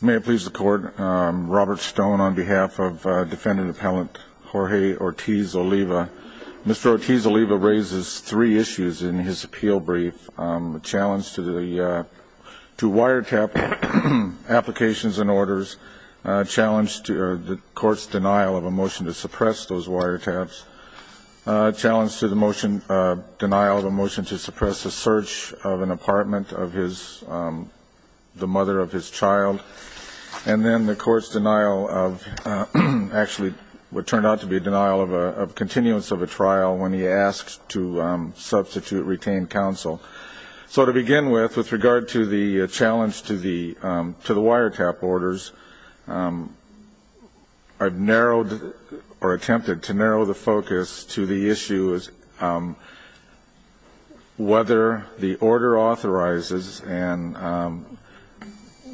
May it please the court Robert Stone on behalf of defendant appellant Jorge Ortiz Oliva. Mr. Ortiz Oliva raises three issues in his appeal brief. A challenge to the to wiretap applications and orders, challenge to the court's denial of a motion to suppress those wiretaps, challenge to the motion denial of a search of an apartment of his the mother of his child and then the court's denial of actually what turned out to be a denial of a continuance of a trial when he asked to substitute retained counsel. So to begin with with regard to the challenge to the to the wiretap orders I've narrowed or attempted to narrow the focus to the issue is whether the order authorizes and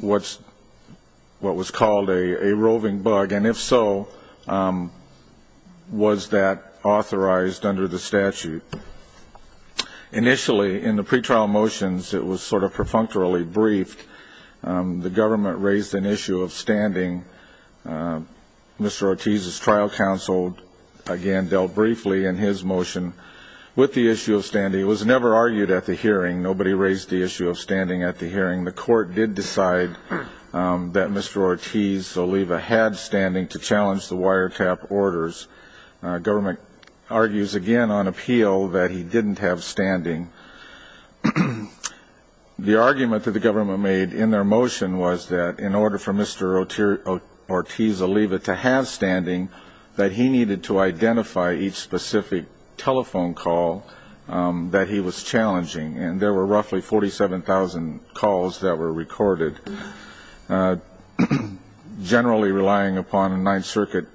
what's what was called a roving bug and if so was that authorized under the statute. Initially in the pretrial motions it was sort of perfunctorily briefed the government raised an issue of standing. Mr. Ortiz's trial counsel again dealt briefly in his motion with the issue of standing. It was never argued at the hearing nobody raised the issue of standing at the hearing. The court did decide that Mr. Ortiz Oliva had standing to challenge the wiretap orders. Government argues again on appeal that he didn't have standing. The argument that the government made in order for Mr. Ortiz Oliva to have standing that he needed to identify each specific telephone call that he was challenging and there were roughly 47,000 calls that were recorded generally relying upon a Ninth Circuit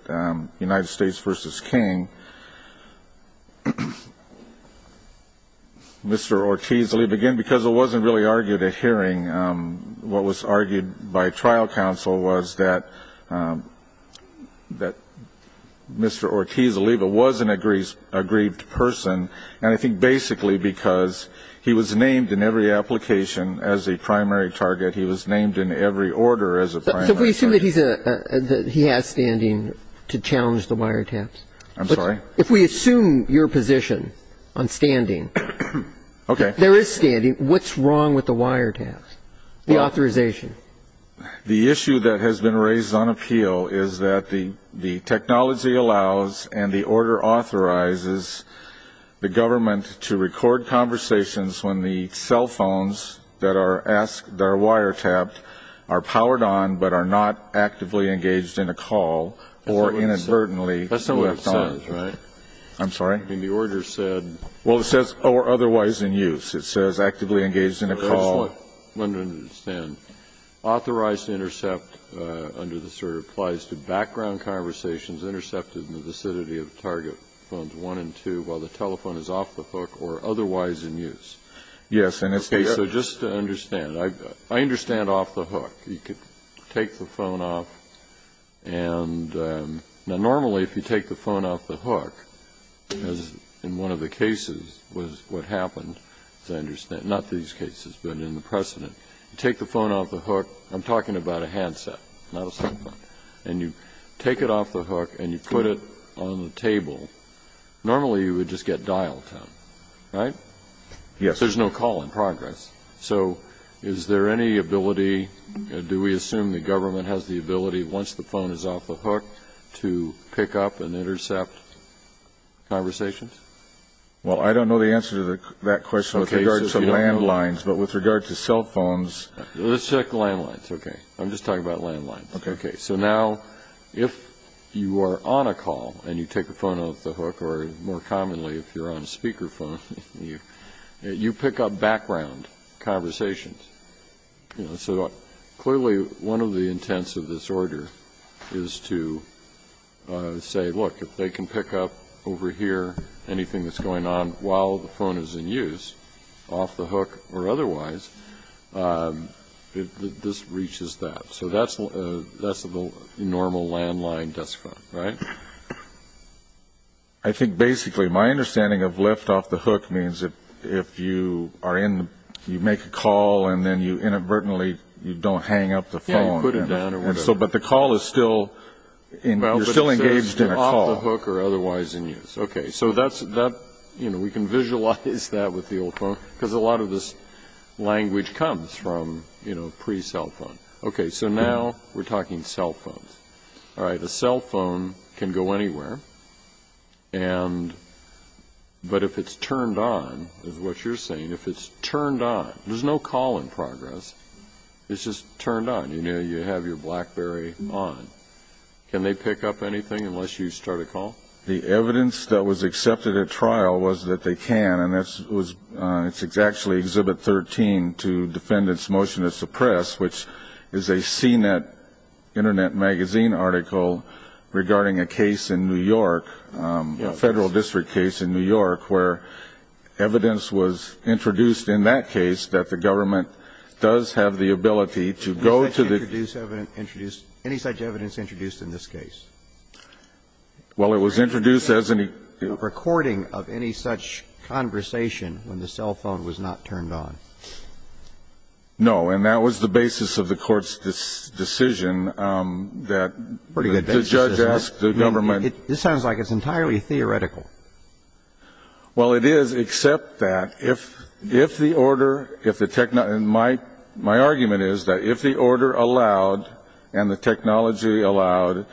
United States v. King. Mr. Ortiz Oliva again because it wasn't really argued at the hearing. The argument that the trial counsel was that Mr. Ortiz Oliva was an aggrieved person and I think basically because he was named in every application as a primary target. He was named in every order as a primary target. So if we assume that he has standing to challenge the wiretaps. I'm sorry? If we assume your position on standing. Okay. There is standing. What's wrong with the wiretaps? The authorization? The issue that has been raised on appeal is that the technology allows and the order authorizes the government to record conversations when the cell phones that are wiretapped are powered on but are not actively engaged in a call or inadvertently. That's not what it says, right? I'm sorry? The order said. Well, it says or otherwise in use. It says actively engaged in a call. Let me understand. Authorized intercept under the CERT applies to background conversations intercepted in the vicinity of target phones 1 and 2 while the telephone is off the hook or otherwise in use. Yes. So just to understand. I understand off the hook. You could take the phone off and now normally if you take the phone off the hook as in one of the cases was what happened, as I understand, not these cases but in the precedent. Take the phone off the hook. I'm talking about a handset, not a cell phone. And you take it off the hook and you put it on the table. Normally you would just get dialed, right? Yes. There's no call in progress. So is there any ability, do we assume the government has the ability once the phone is off the hook to pick up and intercept conversations? Well, I don't know the answer to that question with regard to landlines but with regard to cell phones. Let's check landlines. Okay. I'm just talking about landlines. Okay. So now if you are on a call and you take the phone off the hook or more commonly if you're on a speaker phone, you pick up background conversations. So clearly one of the intents of this order is to say, look, if they can pick up over here anything that's going on while the phone is in use off the hook or otherwise, this reaches that. So that's a normal landline desk phone, right? I think basically my understanding of lift off the hook means that if you are in, you make a call and then you inadvertently, you don't hang up the phone. Yeah, you put it down or whatever. But the call is still, you're still engaged in a call. Off the hook or otherwise in use. Okay. So that's, you know, we can visualize that with the old phone because a lot of this language comes from, you know, pre-cell phone. Okay. So now we're talking cell phones. All right. A cell phone can go anywhere and but if it's turned on, is what you're saying, if it's turned on, there's no call in progress. It's just turned on. You know, you have your BlackBerry on. Can they pick up anything unless you start a call? The evidence that was accepted at trial was that they can. And that was, it's actually Exhibit 13 to Defendant's Motion to Suppress, which is a CNET Internet Magazine article regarding a case in New York, a federal district case in New York, where evidence was introduced in that case that the government does have the ability to go to the. Any such evidence introduced in this case? Well, it was introduced as any. A recording of any such conversation when the cell phone was not turned on. No. And that was the basis of the Court's decision that the judge asked the government. This sounds like it's entirely theoretical. Well, it is, except that if the order, if the, my argument is that if the order allowed and the technology allowed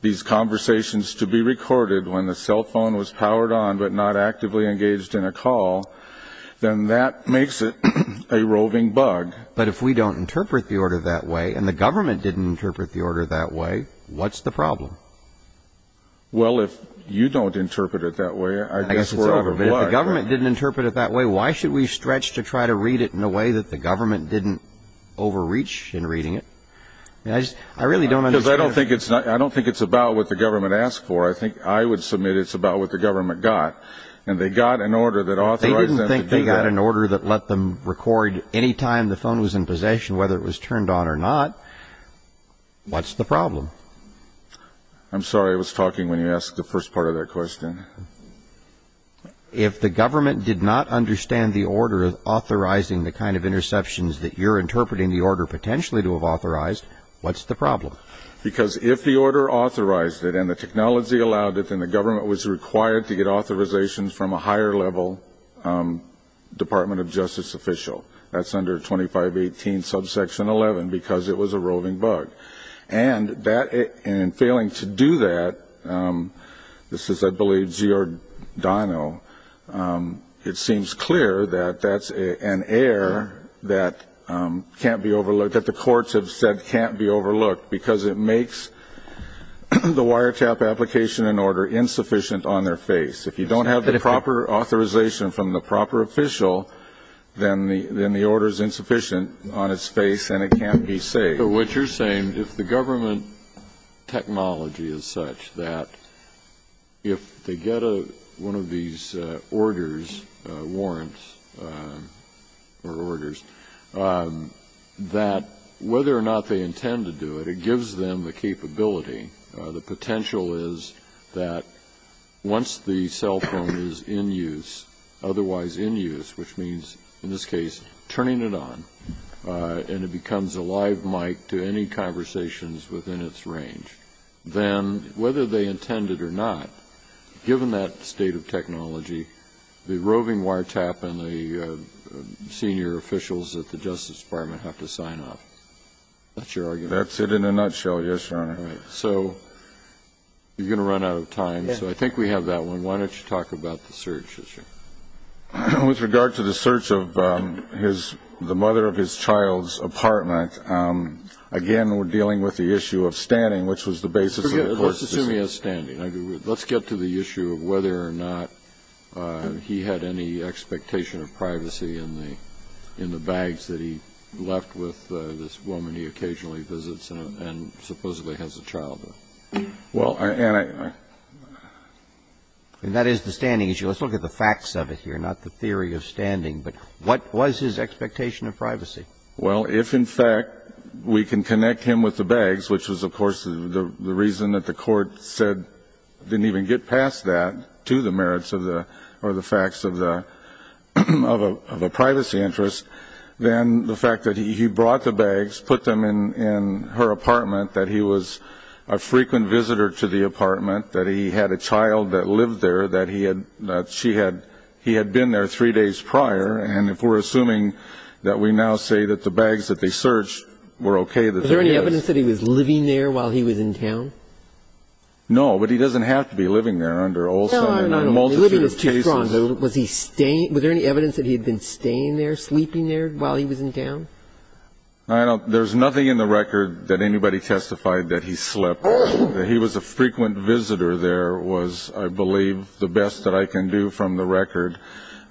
these conversations to be recorded when the cell phone was powered on but not actively engaged in a call, then that makes it a roving bug. But if we don't interpret the order that way and the government didn't interpret the order that way, what's the problem? Well, if you don't interpret it that way, I guess we're out of luck. I guess it's over. But if the government didn't interpret it that way, why should we stretch to try to read it in a way that the government didn't overreach in reading it? I really don't understand. Because I don't think it's about what the government asked for. I think I would submit it's about what the government got. And they got an order that authorized them to do that. They didn't think they got an order that let them record any time the phone was in possession, whether it was turned on or not. What's the problem? I'm sorry. I was talking when you asked the first part of that question. If the government did not understand the order authorizing the kind of interceptions that you're interpreting the order potentially to have authorized, what's the problem? Because if the order authorized it and the technology allowed it, then the government was required to get authorizations from a higher level Department of Justice official. That's under 2518 subsection 11 because it was a roving bug. And in failing to do that, this is, I believe, Giordano, it seems clear that that's an error that can't be overlooked, that the courts have said can't be overlooked because it makes the wiretap application and order insufficient on their face. If you don't have the proper authorization from the proper official, then the order is insufficient on its face and it can't be saved. So what you're saying, if the government technology is such that if they get one of these orders, warrants or orders, that whether or not they intend to do it, it gives them the capability, the potential is that once the cell phone is in use, otherwise in use, which becomes a live mic to any conversations within its range, then whether they intend it or not, given that state of technology, the roving wiretap and the senior officials at the Justice Department have to sign off. That's your argument? That's it in a nutshell, yes, Your Honor. All right. So you're going to run out of time, so I think we have that one. Why don't you talk about the search issue? With regard to the search of the mother of his child's apartment, again, we're dealing with the issue of standing, which was the basis of the court's decision. Let's assume he has standing. Let's get to the issue of whether or not he had any expectation of privacy in the bags that he left with this woman he occasionally visits and supposedly has a child with. Well, and I... And that is the standing issue. Let's look at the facts of it here, not the theory of standing. But what was his expectation of privacy? Well, if, in fact, we can connect him with the bags, which was, of course, the reason that the court said didn't even get past that to the merits or the facts of a privacy interest, then the fact that he brought the bags, put them in her apartment, that he was a frequent visitor to the apartment, that he had a child that lived there, that he had that she had he had been there three days prior, and if we're assuming that we now say that the bags that they searched were okay, that there is... Was there any evidence that he was living there while he was in town? No, but he doesn't have to be living there under old... No, I know. The living is too strong, but was he staying... Was there any evidence that he had been staying there, sleeping there while he was in town? I don't... There's nothing in the record that anybody testified that he slept. He was a frequent visitor there was, I believe, the best that I can do from the record.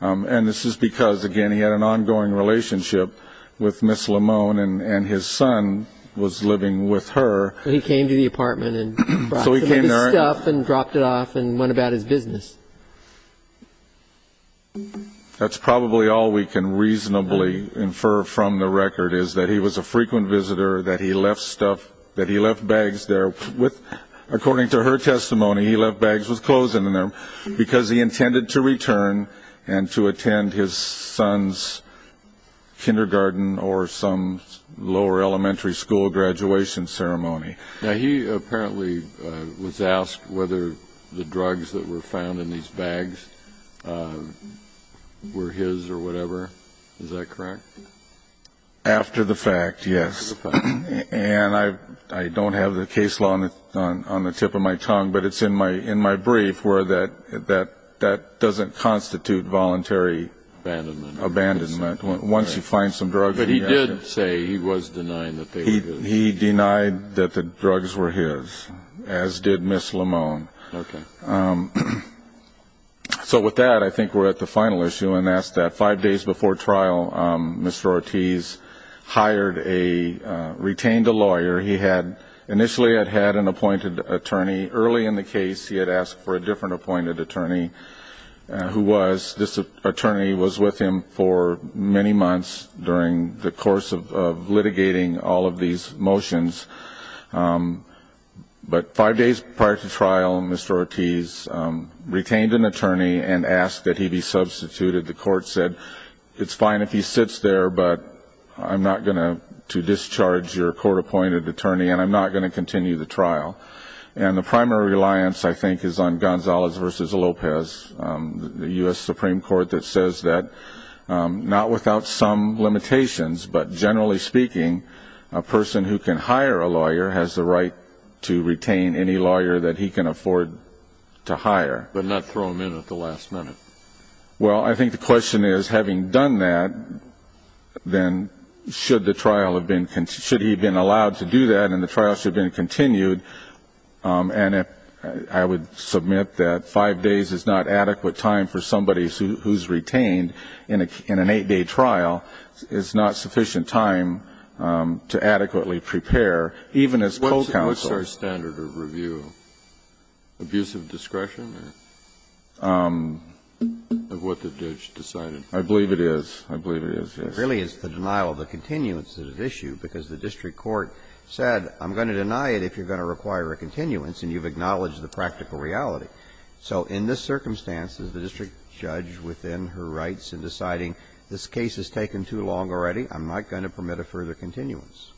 And this is because, again, he had an ongoing relationship with Miss Lamone, and his son was living with her. He came to the apartment and brought some of his stuff and dropped it off and went about his business. That's probably all we can reasonably infer from the record, is that he was a frequent visitor, that he left stuff, that he left bags there with... According to her testimony, he left bags with clothes in them, because he intended to return and to attend his son's kindergarten or some lower elementary school graduation ceremony. Now, he apparently was asked whether the drugs that were found in the bag were the same drugs that were found in these bags were his or whatever. Is that correct? After the fact, yes. And I don't have the case law on the tip of my tongue, but it's in my brief where that doesn't constitute voluntary abandonment. Once you find some drugs... But he did say he was denying that they were his. He denied that the drugs were his, as did Miss Lamone. Okay. So with that, I think we're at the final issue, and that's that five days before trial, Mr. Ortiz hired a... Retained a lawyer. He had... Initially had had an appointed attorney. Early in the case, he had asked for a different appointed attorney, who was... This attorney was with him for many months during the course of litigating all of these motions. But five days prior to trial, Mr. Ortiz retained an attorney and asked that he be substituted. The court said, it's fine if he sits there, but I'm not going to discharge your court appointed attorney, and I'm not going to continue the trial. And the primary reliance, I think, is on Gonzales v. Lopez, the U.S. Supreme Court, that says that not without some limitations, but generally speaking, a person who can hire a lawyer has the right to retain any lawyer that he can afford to hire. But not throw him in at the last minute. Well, I think the question is, having done that, then should the trial have been... Should he have been allowed to do that and the trial should have been continued? And I would submit that five days is not adequate time for somebody who's retained in an eight-day trial is not sufficient time to adequately prepare, even as co-counsel. What's our standard of review? Abusive discretion or? Of what the judge decided. I believe it is. I believe it is, yes. It really is the denial of the continuance of the issue, because the district court said, I'm going to deny it if you're going to require a continuance, and you've acknowledged the practical reality. So in this circumstance, is the district judge within her rights in deciding, this case has taken too long already, I'm not going to permit a further continuance?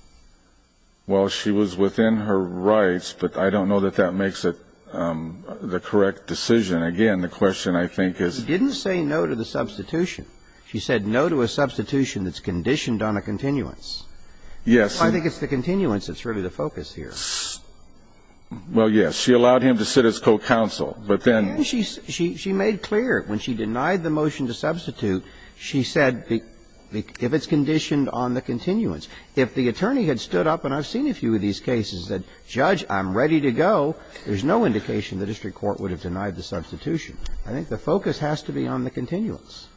Well, she was within her rights, but I don't know that that makes it the correct decision. Again, the question, I think, is... She didn't say no to the substitution. She said no to a substitution that's conditioned on a continuance. Yes. I think it's the continuance that's really the focus here. Well, yes. She allowed him to sit as co-counsel, but then... She made clear, when she denied the motion to substitute, she said, if it's conditioned on the continuance. If the attorney had stood up, and I've seen a few of these cases, said, Judge, I'm ready to go, there's no indication the district court would have denied the substitution. I think the focus has to be on the continuance.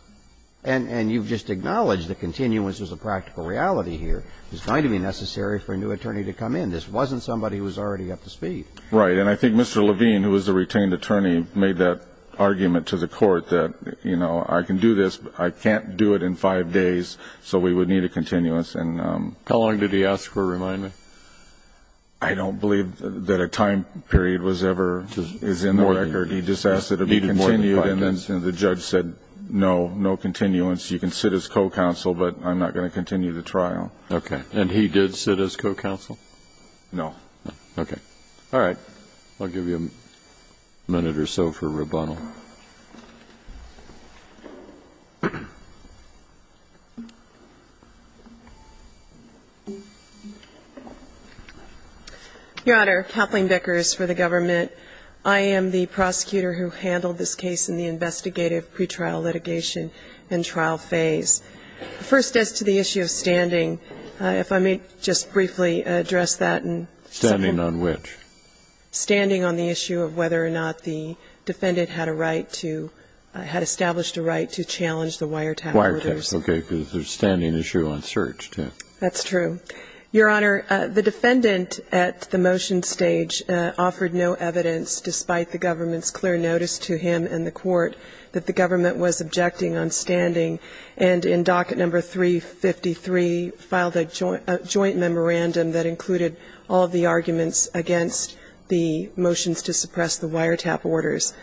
And you've just acknowledged the continuance was a practical reality here. It was going to be necessary for a new attorney to come in. This wasn't somebody who was already up to speed. Right. And I think Mr. Levine, who was the retained attorney, made that argument to the court that, you know, I can do this, but I can't do it in five days, so we would need a continuance. How long did he ask for a reminder? I don't believe that a time period was ever... Is in the record. He just asked that it be continued, and the judge said, no, no continuance. You can sit as co-counsel, but I'm not going to continue the trial. Okay. And he did sit as co-counsel? No. Okay. All right. I'll give you a minute or so for rebuttal. Your Honor, Kathleen Vickers for the government. I am the prosecutor who handled this case in the investigative pretrial litigation and trial phase. First, as to the issue of standing, if I may just briefly address that and... Standing on which? Standing on the issue of whether or not the defendant had a right to... had established a right to challenge the wiretap orders. Wiretap. Okay. Because there's a standing issue on search, too. That's true. Your Honor, the defendant at the motion stage offered no evidence, despite the government's clear notice to him and the court, that the government was objecting on standing and in docket number 353 filed a joint memorandum that included all of the arguments against the motions to suppress the wiretap orders.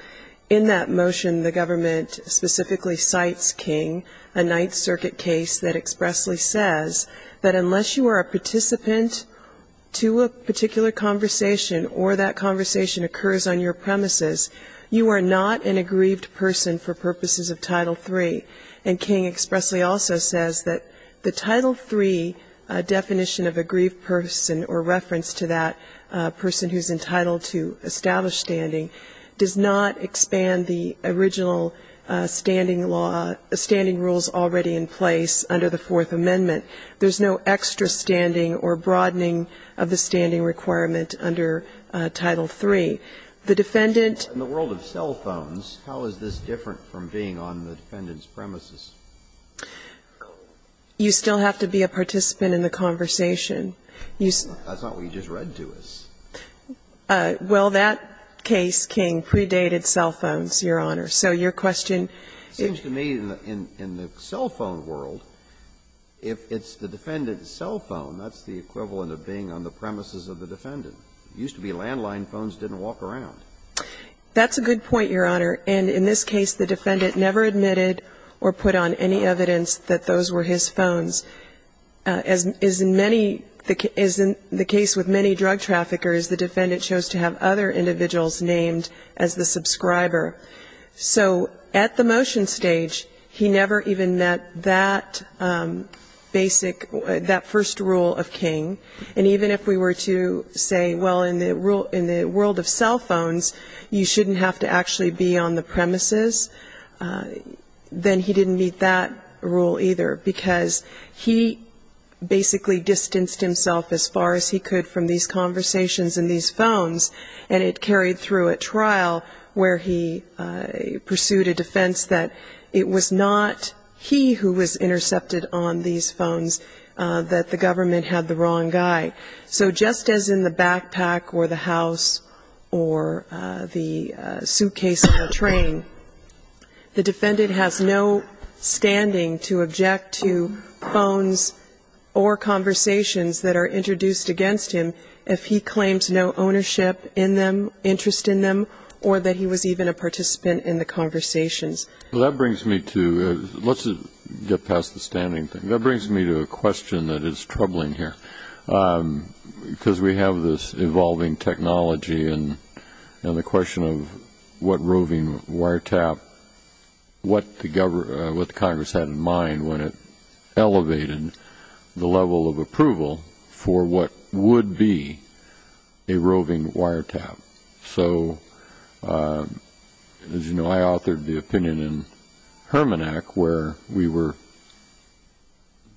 In that motion, the government specifically cites King, a Ninth Circuit case that expressly says that unless you are a participant to a particular conversation or that conversation occurs on your premises, you are not an aggrieved person for purposes of Title III. And King expressly also says that the Title III definition of aggrieved person or reference to that person who's entitled to established standing does not expand the original standing law, standing rules already in place under the Fourth Amendment. There's no extra standing or broadening of the standing requirement under Title III. The defendant ---- In the world of cell phones, how is this different from being on the defendant's premises? You still have to be a participant in the conversation. That's not what you just read to us. Well, that case, King, predated cell phones, Your Honor. So your question ---- It seems to me in the cell phone world, if it's the defendant's cell phone, that's the equivalent of being on the premises of the defendant. It used to be landline phones didn't walk around. That's a good point, Your Honor. And in this case, the defendant never admitted or put on any evidence that those were his phones. As is in many ---- as in the case with many drug traffickers, the defendant chose to have other individuals named as the subscriber. So at the motion stage, he never even met that basic ---- that first rule of King. And even if we were to say, well, in the world of cell phones, you shouldn't have to actually be on the premises, then he didn't meet that rule either, because he basically distanced himself as far as he could from these conversations and these phones, and it carried through a trial where he pursued a defense that it was not he who was intercepted on these phones, that the government had the wrong guy. So just as in the backpack or the house or the suitcase or the train, the defendant has no standing to object to phones or conversations that are introduced against him if he claims no ownership in them, interest in them, or that he was even a participant in the conversations. Well, that brings me to ---- let's get past the standing thing. That brings me to a question that is troubling here, because we have this evolving technology and the question of what roving wiretap, what the Congress had in mind when it elevated the level of approval for what would be a roving wiretap. So as you know, I authored the opinion in Hermannac where we were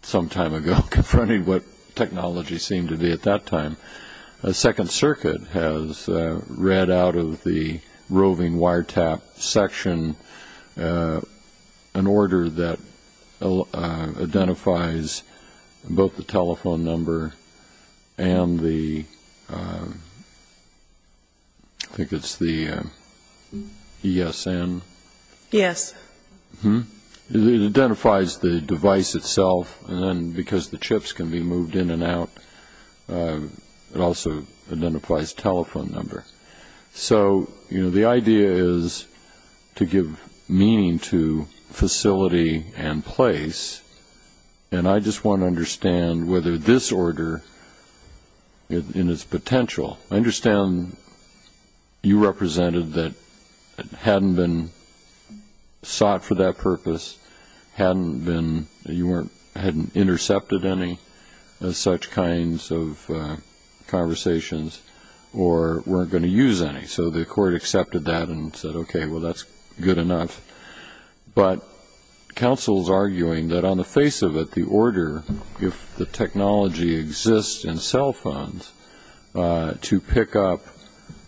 some time ago confronting what technology seemed to be at that time. Second Circuit has read out of the roving wiretap section an order that identifies both the telephone number and the, I think it's the ESN. Yes. It identifies the device itself and then because the chips can be moved in and out, it also identifies telephone number. So the idea is to give meaning to facility and place, and I just want to understand whether this order in its potential, I understand you represented that hadn't been sought for that purpose, hadn't intercepted any such kinds of conversations or weren't going to use any. So the court accepted that and said, okay, well, that's good enough. But counsel is arguing that on the face of it, the order, if the technology exists in cell phones, to pick up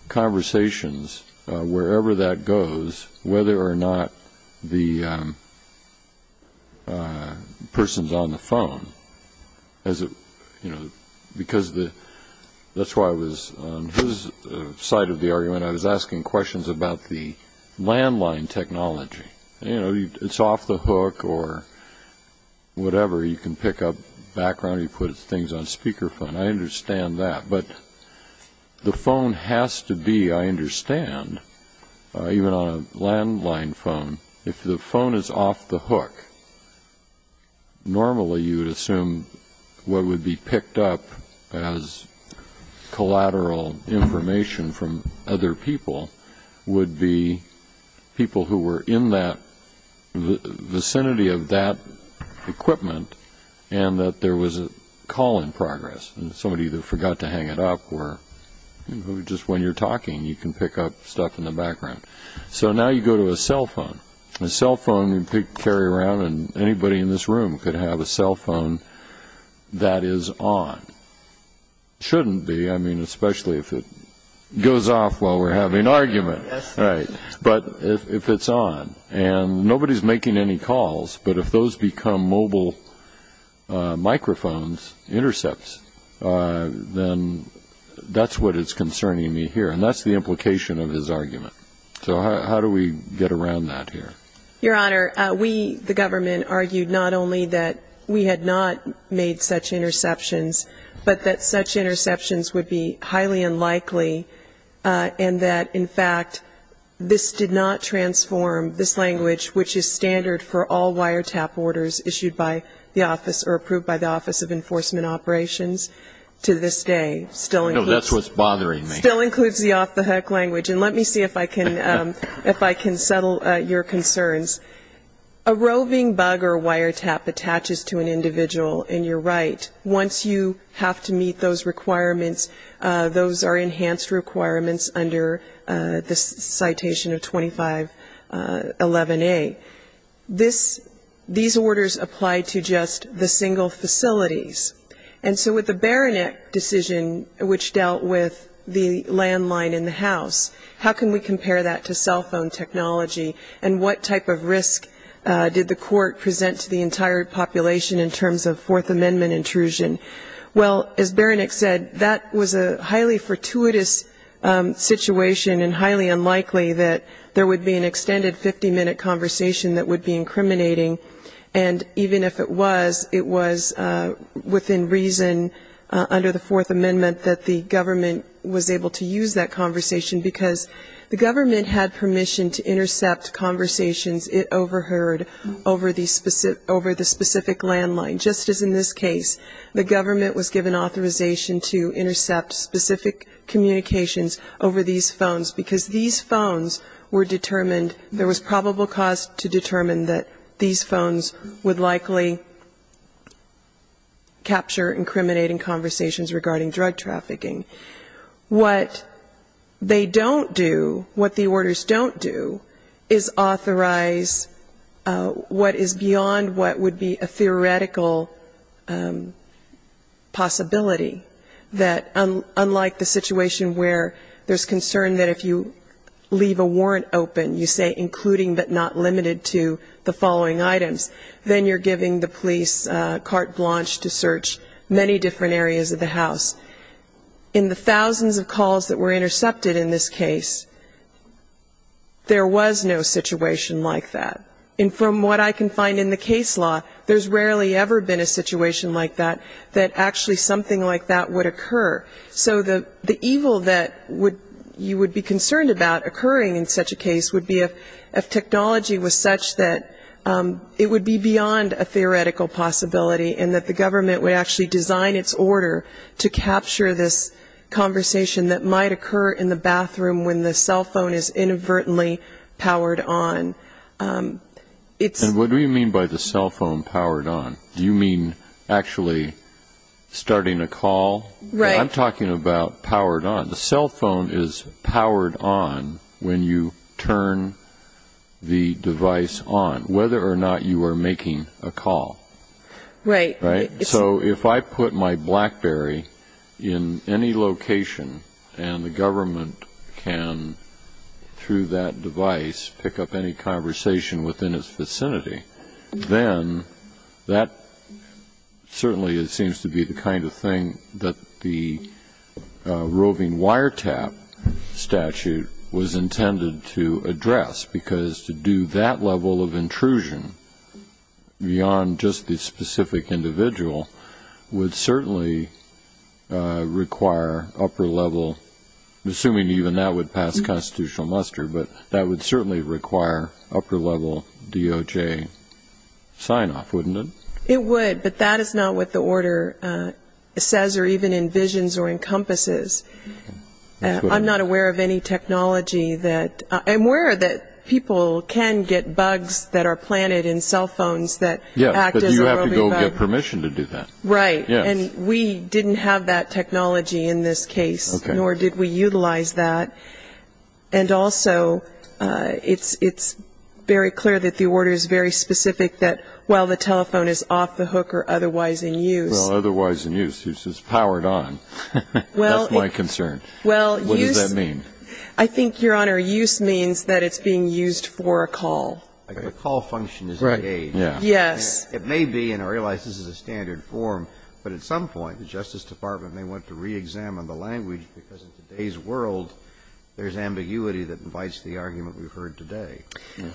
conversations wherever that goes, whether or not the person's on the phone. Because that's why I was on his side of the argument. I was asking questions about the landline technology. It's off the hook or whatever. You can pick up background. You put things on speakerphone. I understand that. But the phone has to be, I understand, even on a landline phone, if the phone is off the hook, normally you would assume what would be picked up as collateral information from other people would be people who were in that vicinity of that equipment and that there was a call in progress. Somebody either forgot to hang it up or just when you're talking, you can pick up stuff in the background. So now you go to a cell phone. A cell phone you can carry around and anybody in this room could have a cell phone that is on. It shouldn't be, especially if it goes off while we're having an argument. But if it's on and nobody's making any calls, but if those become mobile microphones, intercepts, then that's what is concerning me here. And that's the implication of his argument. So how do we get around that here? Your Honor, we, the government, argued not only that we had not made such interceptions, but that such interceptions would be highly unlikely and that, in fact, this did not transform this language, which is standard for all wiretap orders issued by the office or approved by the Office of Enforcement Operations to this day. No, that's what's bothering me. Still includes the off-the-hook language. And let me see if I can settle your concerns. A roving bug or wiretap attaches to an individual, and you're right, once you have to meet those requirements, those are enhanced requirements under this citation of 2511A. These orders apply to just the single facilities. And so with the Berenik decision, which dealt with the landline in the house, how can we compare that to cell phone technology and what type of risk did the court present to the entire population in terms of Fourth Amendment intrusion? Well, as Berenik said, that was a highly fortuitous situation and highly unlikely that there would be an extended 50-minute conversation that would be incriminating. And even if it was, it was within reason under the Fourth Amendment that the government was able to use that conversation because the government had permission to intercept conversations it overheard over the specific landline. Just as in this case, the government was given authorization to intercept specific communications over these phones because these phones were determined, there was probable cause to determine that these phones would likely capture incriminating conversations regarding drug trafficking. What they don't do, what the orders don't do, is authorize what is beyond what would be a theoretical possibility that, unlike the situation where there's concern that if you leave a warrant open, you say, including but not limited to the following items, then you're giving the police carte blanche to search many different areas of the house. In the thousands of calls that were intercepted in this case, there was no situation like that. And from what I can find in the case law, there's rarely ever been a situation like that, that actually something like that would occur. So the evil that you would be concerned about occurring in such a case would be if technology was such that it would be beyond a theoretical possibility and that the government would actually design its order to capture this conversation that might occur in the bathroom when the cell phone is inadvertently powered on. It's... And what do you mean by the cell phone powered on? Do you mean actually starting a call? Right. I'm talking about powered on. The cell phone is powered on when you turn the device on, whether or not you are making a call. Right. So if I put my BlackBerry in any location and the government can, through that device, pick up any conversation within its vicinity, then that certainly seems to be the kind of thing that the roving wiretap statute was intended to address, because to do that level of intrusion beyond just the specific individual would certainly require upper-level... Assuming even that would pass constitutional muster, but that would certainly require upper-level DOJ sign-off, wouldn't it? It would, but that is not what the order says or even envisions or encompasses. I'm not aware of any technology that... I'm aware that people can get bugs that are planted in cell phones that act as a roving bug. They have permission to do that. Right. And we didn't have that technology in this case, nor did we utilize that. And also, it's very clear that the order is very specific that while the telephone is off the hook or otherwise in use... Well, otherwise in use, which is powered on. That's my concern. Well, use... What does that mean? I think, Your Honor, use means that it's being used for a call. A call function is made. Yes. It may be, and I realize this is a standard form, but at some point the Justice Department may want to reexamine the language because in today's world, there's ambiguity that invites the argument we've heard today.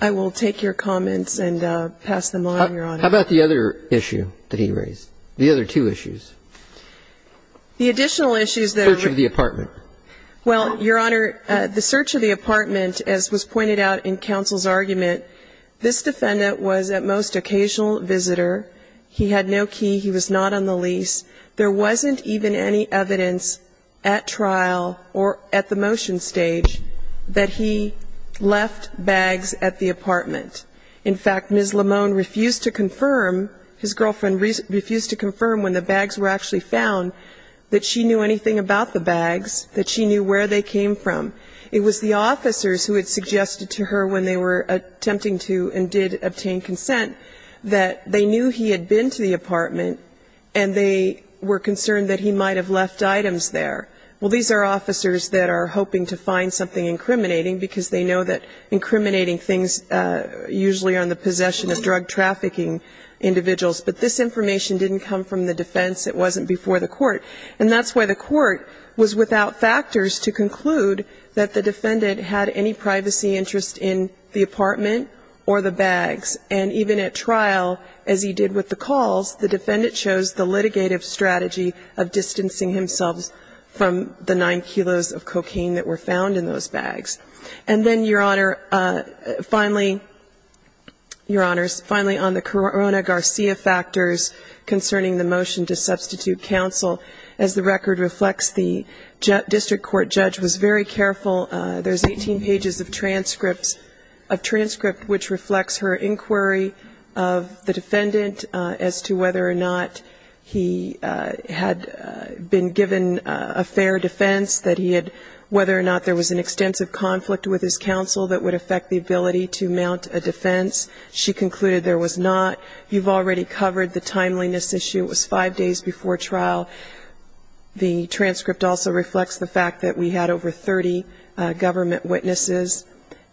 I will take your comments and pass them on, Your Honor. How about the other issue that he raised, the other two issues? The additional issues that are... Search of the apartment. Well, Your Honor, the search of the apartment, as was pointed out in counsel's argument, this defendant was at most occasional visitor. He had no key. He was not on the lease. There wasn't even any evidence at trial or at the motion stage that he left bags at the apartment. In fact, Ms. Lamone refused to confirm, his girlfriend refused to confirm when the bags were actually found that she knew anything about the bags, that she knew where they came from. It was the officers who had suggested to her when they were attempting to and did obtain consent that they knew he had been to the apartment and they were concerned that he might have left items there. Well, these are officers that are hoping to find something incriminating because they know that incriminating things usually are in the possession of drug trafficking individuals. But this information didn't come from the defense. It wasn't before the court. And that's why the court was without factors to conclude that the defendant had any privacy interest in the apartment or the bags. And even at trial, as he did with the calls, the defendant chose the litigative strategy of distancing himself from the nine kilos of cocaine that were found in those bags. And then, Your Honor, finally, Your Honors, finally on the Corona Garcia factors concerning the motion to substitute counsel, as the record reflects, the district court judge was very careful. There's 18 pages of transcripts, a transcript which reflects her inquiry of the defendant as to whether or not he had been given a fair defense, whether or not there was an extensive conflict with his counsel that would affect the ability to mount a defense. She concluded there was not. You've already covered the timeliness issue. It was five days before trial. The transcript also reflects the fact that we had over 30 government witnesses.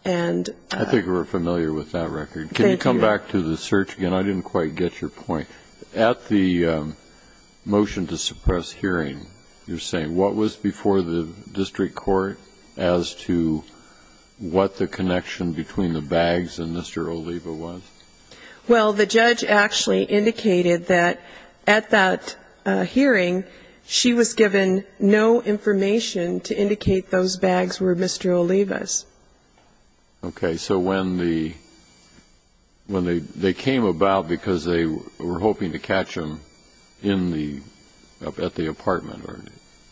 And... I think we're familiar with that record. Thank you. Can you come back to the search again? I didn't quite get your point. At the motion to suppress hearing, you're saying, what was before the district court as to what the connection between the bags and Mr. Oliva was? Well, the judge actually indicated that at that hearing, she was given no information to indicate those bags were Mr. Oliva's. Okay. So when they came about because they were hoping to catch him at the apartment or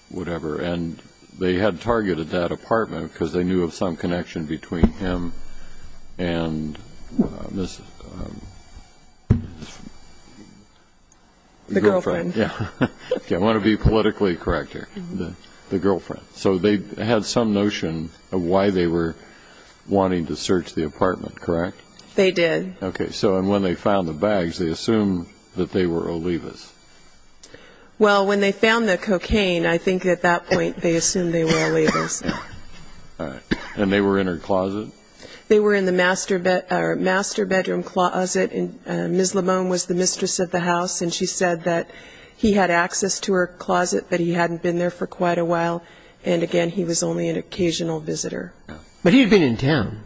whatever, and they had targeted that apartment because they knew of some connection between him and... The girlfriend. Yeah. I want to be politically correct here. The girlfriend. So they had some notion of why they were wanting to search the apartment. Correct? They did. Okay. So when they found the bags, they assumed that they were Oliva's. Well, when they found the cocaine, I think at that point they assumed they were Oliva's. All right. And they were in her closet? They were in the master bedroom closet, and Ms. Lamone was the mistress of the house, and she said that he had access to her closet, but he hadn't been there for quite a while, and again, he was only an occasional visitor. But he had been in town.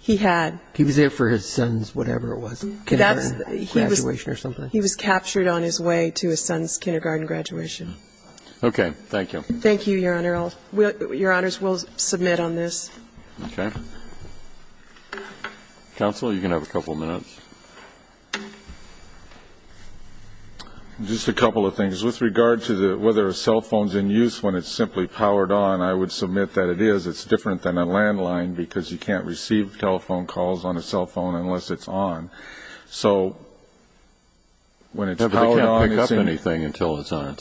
He had. He was there for his son's whatever it was, kindergarten graduation or something? He was captured on his way to his son's kindergarten graduation. Okay. Thank you. Thank you, Your Honor. Your Honors, we'll submit on this. Okay. Counsel, you can have a couple of minutes. Just a couple of things. With regard to whether a cell phone is in use when it's simply powered on, I would submit that it is. It's different than a landline, because you can't receive telephone calls on a cell phone unless it's on. So when it's powered on. You can't pick up anything until it's on.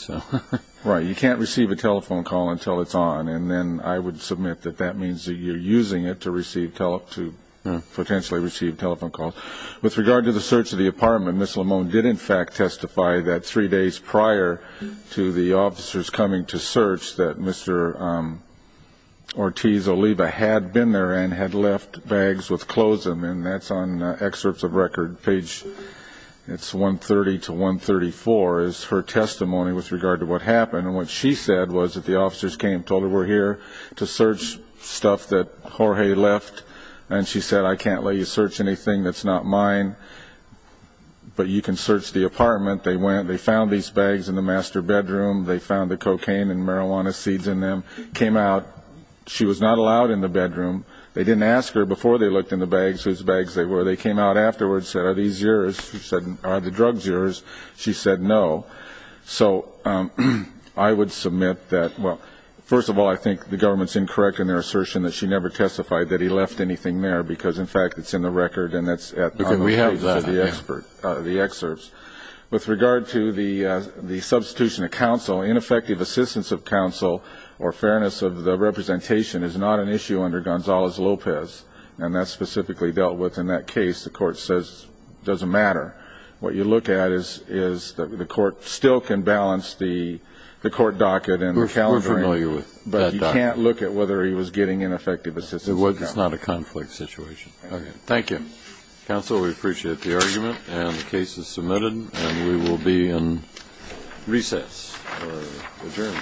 Right. You can't receive a telephone call until it's on, and then I would submit that that means that you're using it to potentially receive telephone calls. With regard to the search of the apartment, Ms. Lamone did in fact testify that three days prior to the officers coming to search that Mr. Ortiz Oliva had been there and had left bags with clothes in them, and that's on excerpts of record, page, it's 130 to 134, is her testimony with regard to what happened. And what she said was that the officers came, told her we're here to search stuff that Jorge left, and she said, I can't let you search anything that's not mine, but you can search the apartment. They went. They found these bags in the master bedroom. They found the cocaine and marijuana seeds in them. Came out. She was not allowed in the bedroom. They didn't ask her before they looked in the bags whose bags they were. They came out afterwards, said, are these yours? She said, are the drugs yours? She said no. So I would submit that, well, first of all, I think the government's incorrect in their assertion that she never testified that he left anything there because, in fact, it's in the record, and that's on the pages of the excerpts. With regard to the substitution of counsel, ineffective assistance of counsel or fairness of the representation is not an issue under Gonzalez-Lopez, and that's specifically dealt with in that case. The court says it doesn't matter. What you look at is the court still can balance the court docket and the calendar. We're familiar with that docket. But you can't look at whether he was getting ineffective assistance of counsel. It's not a conflict situation. Okay. Thank you. Counsel, we appreciate the argument, and the case is submitted, and we will be in recess or adjournment. It's adjourned.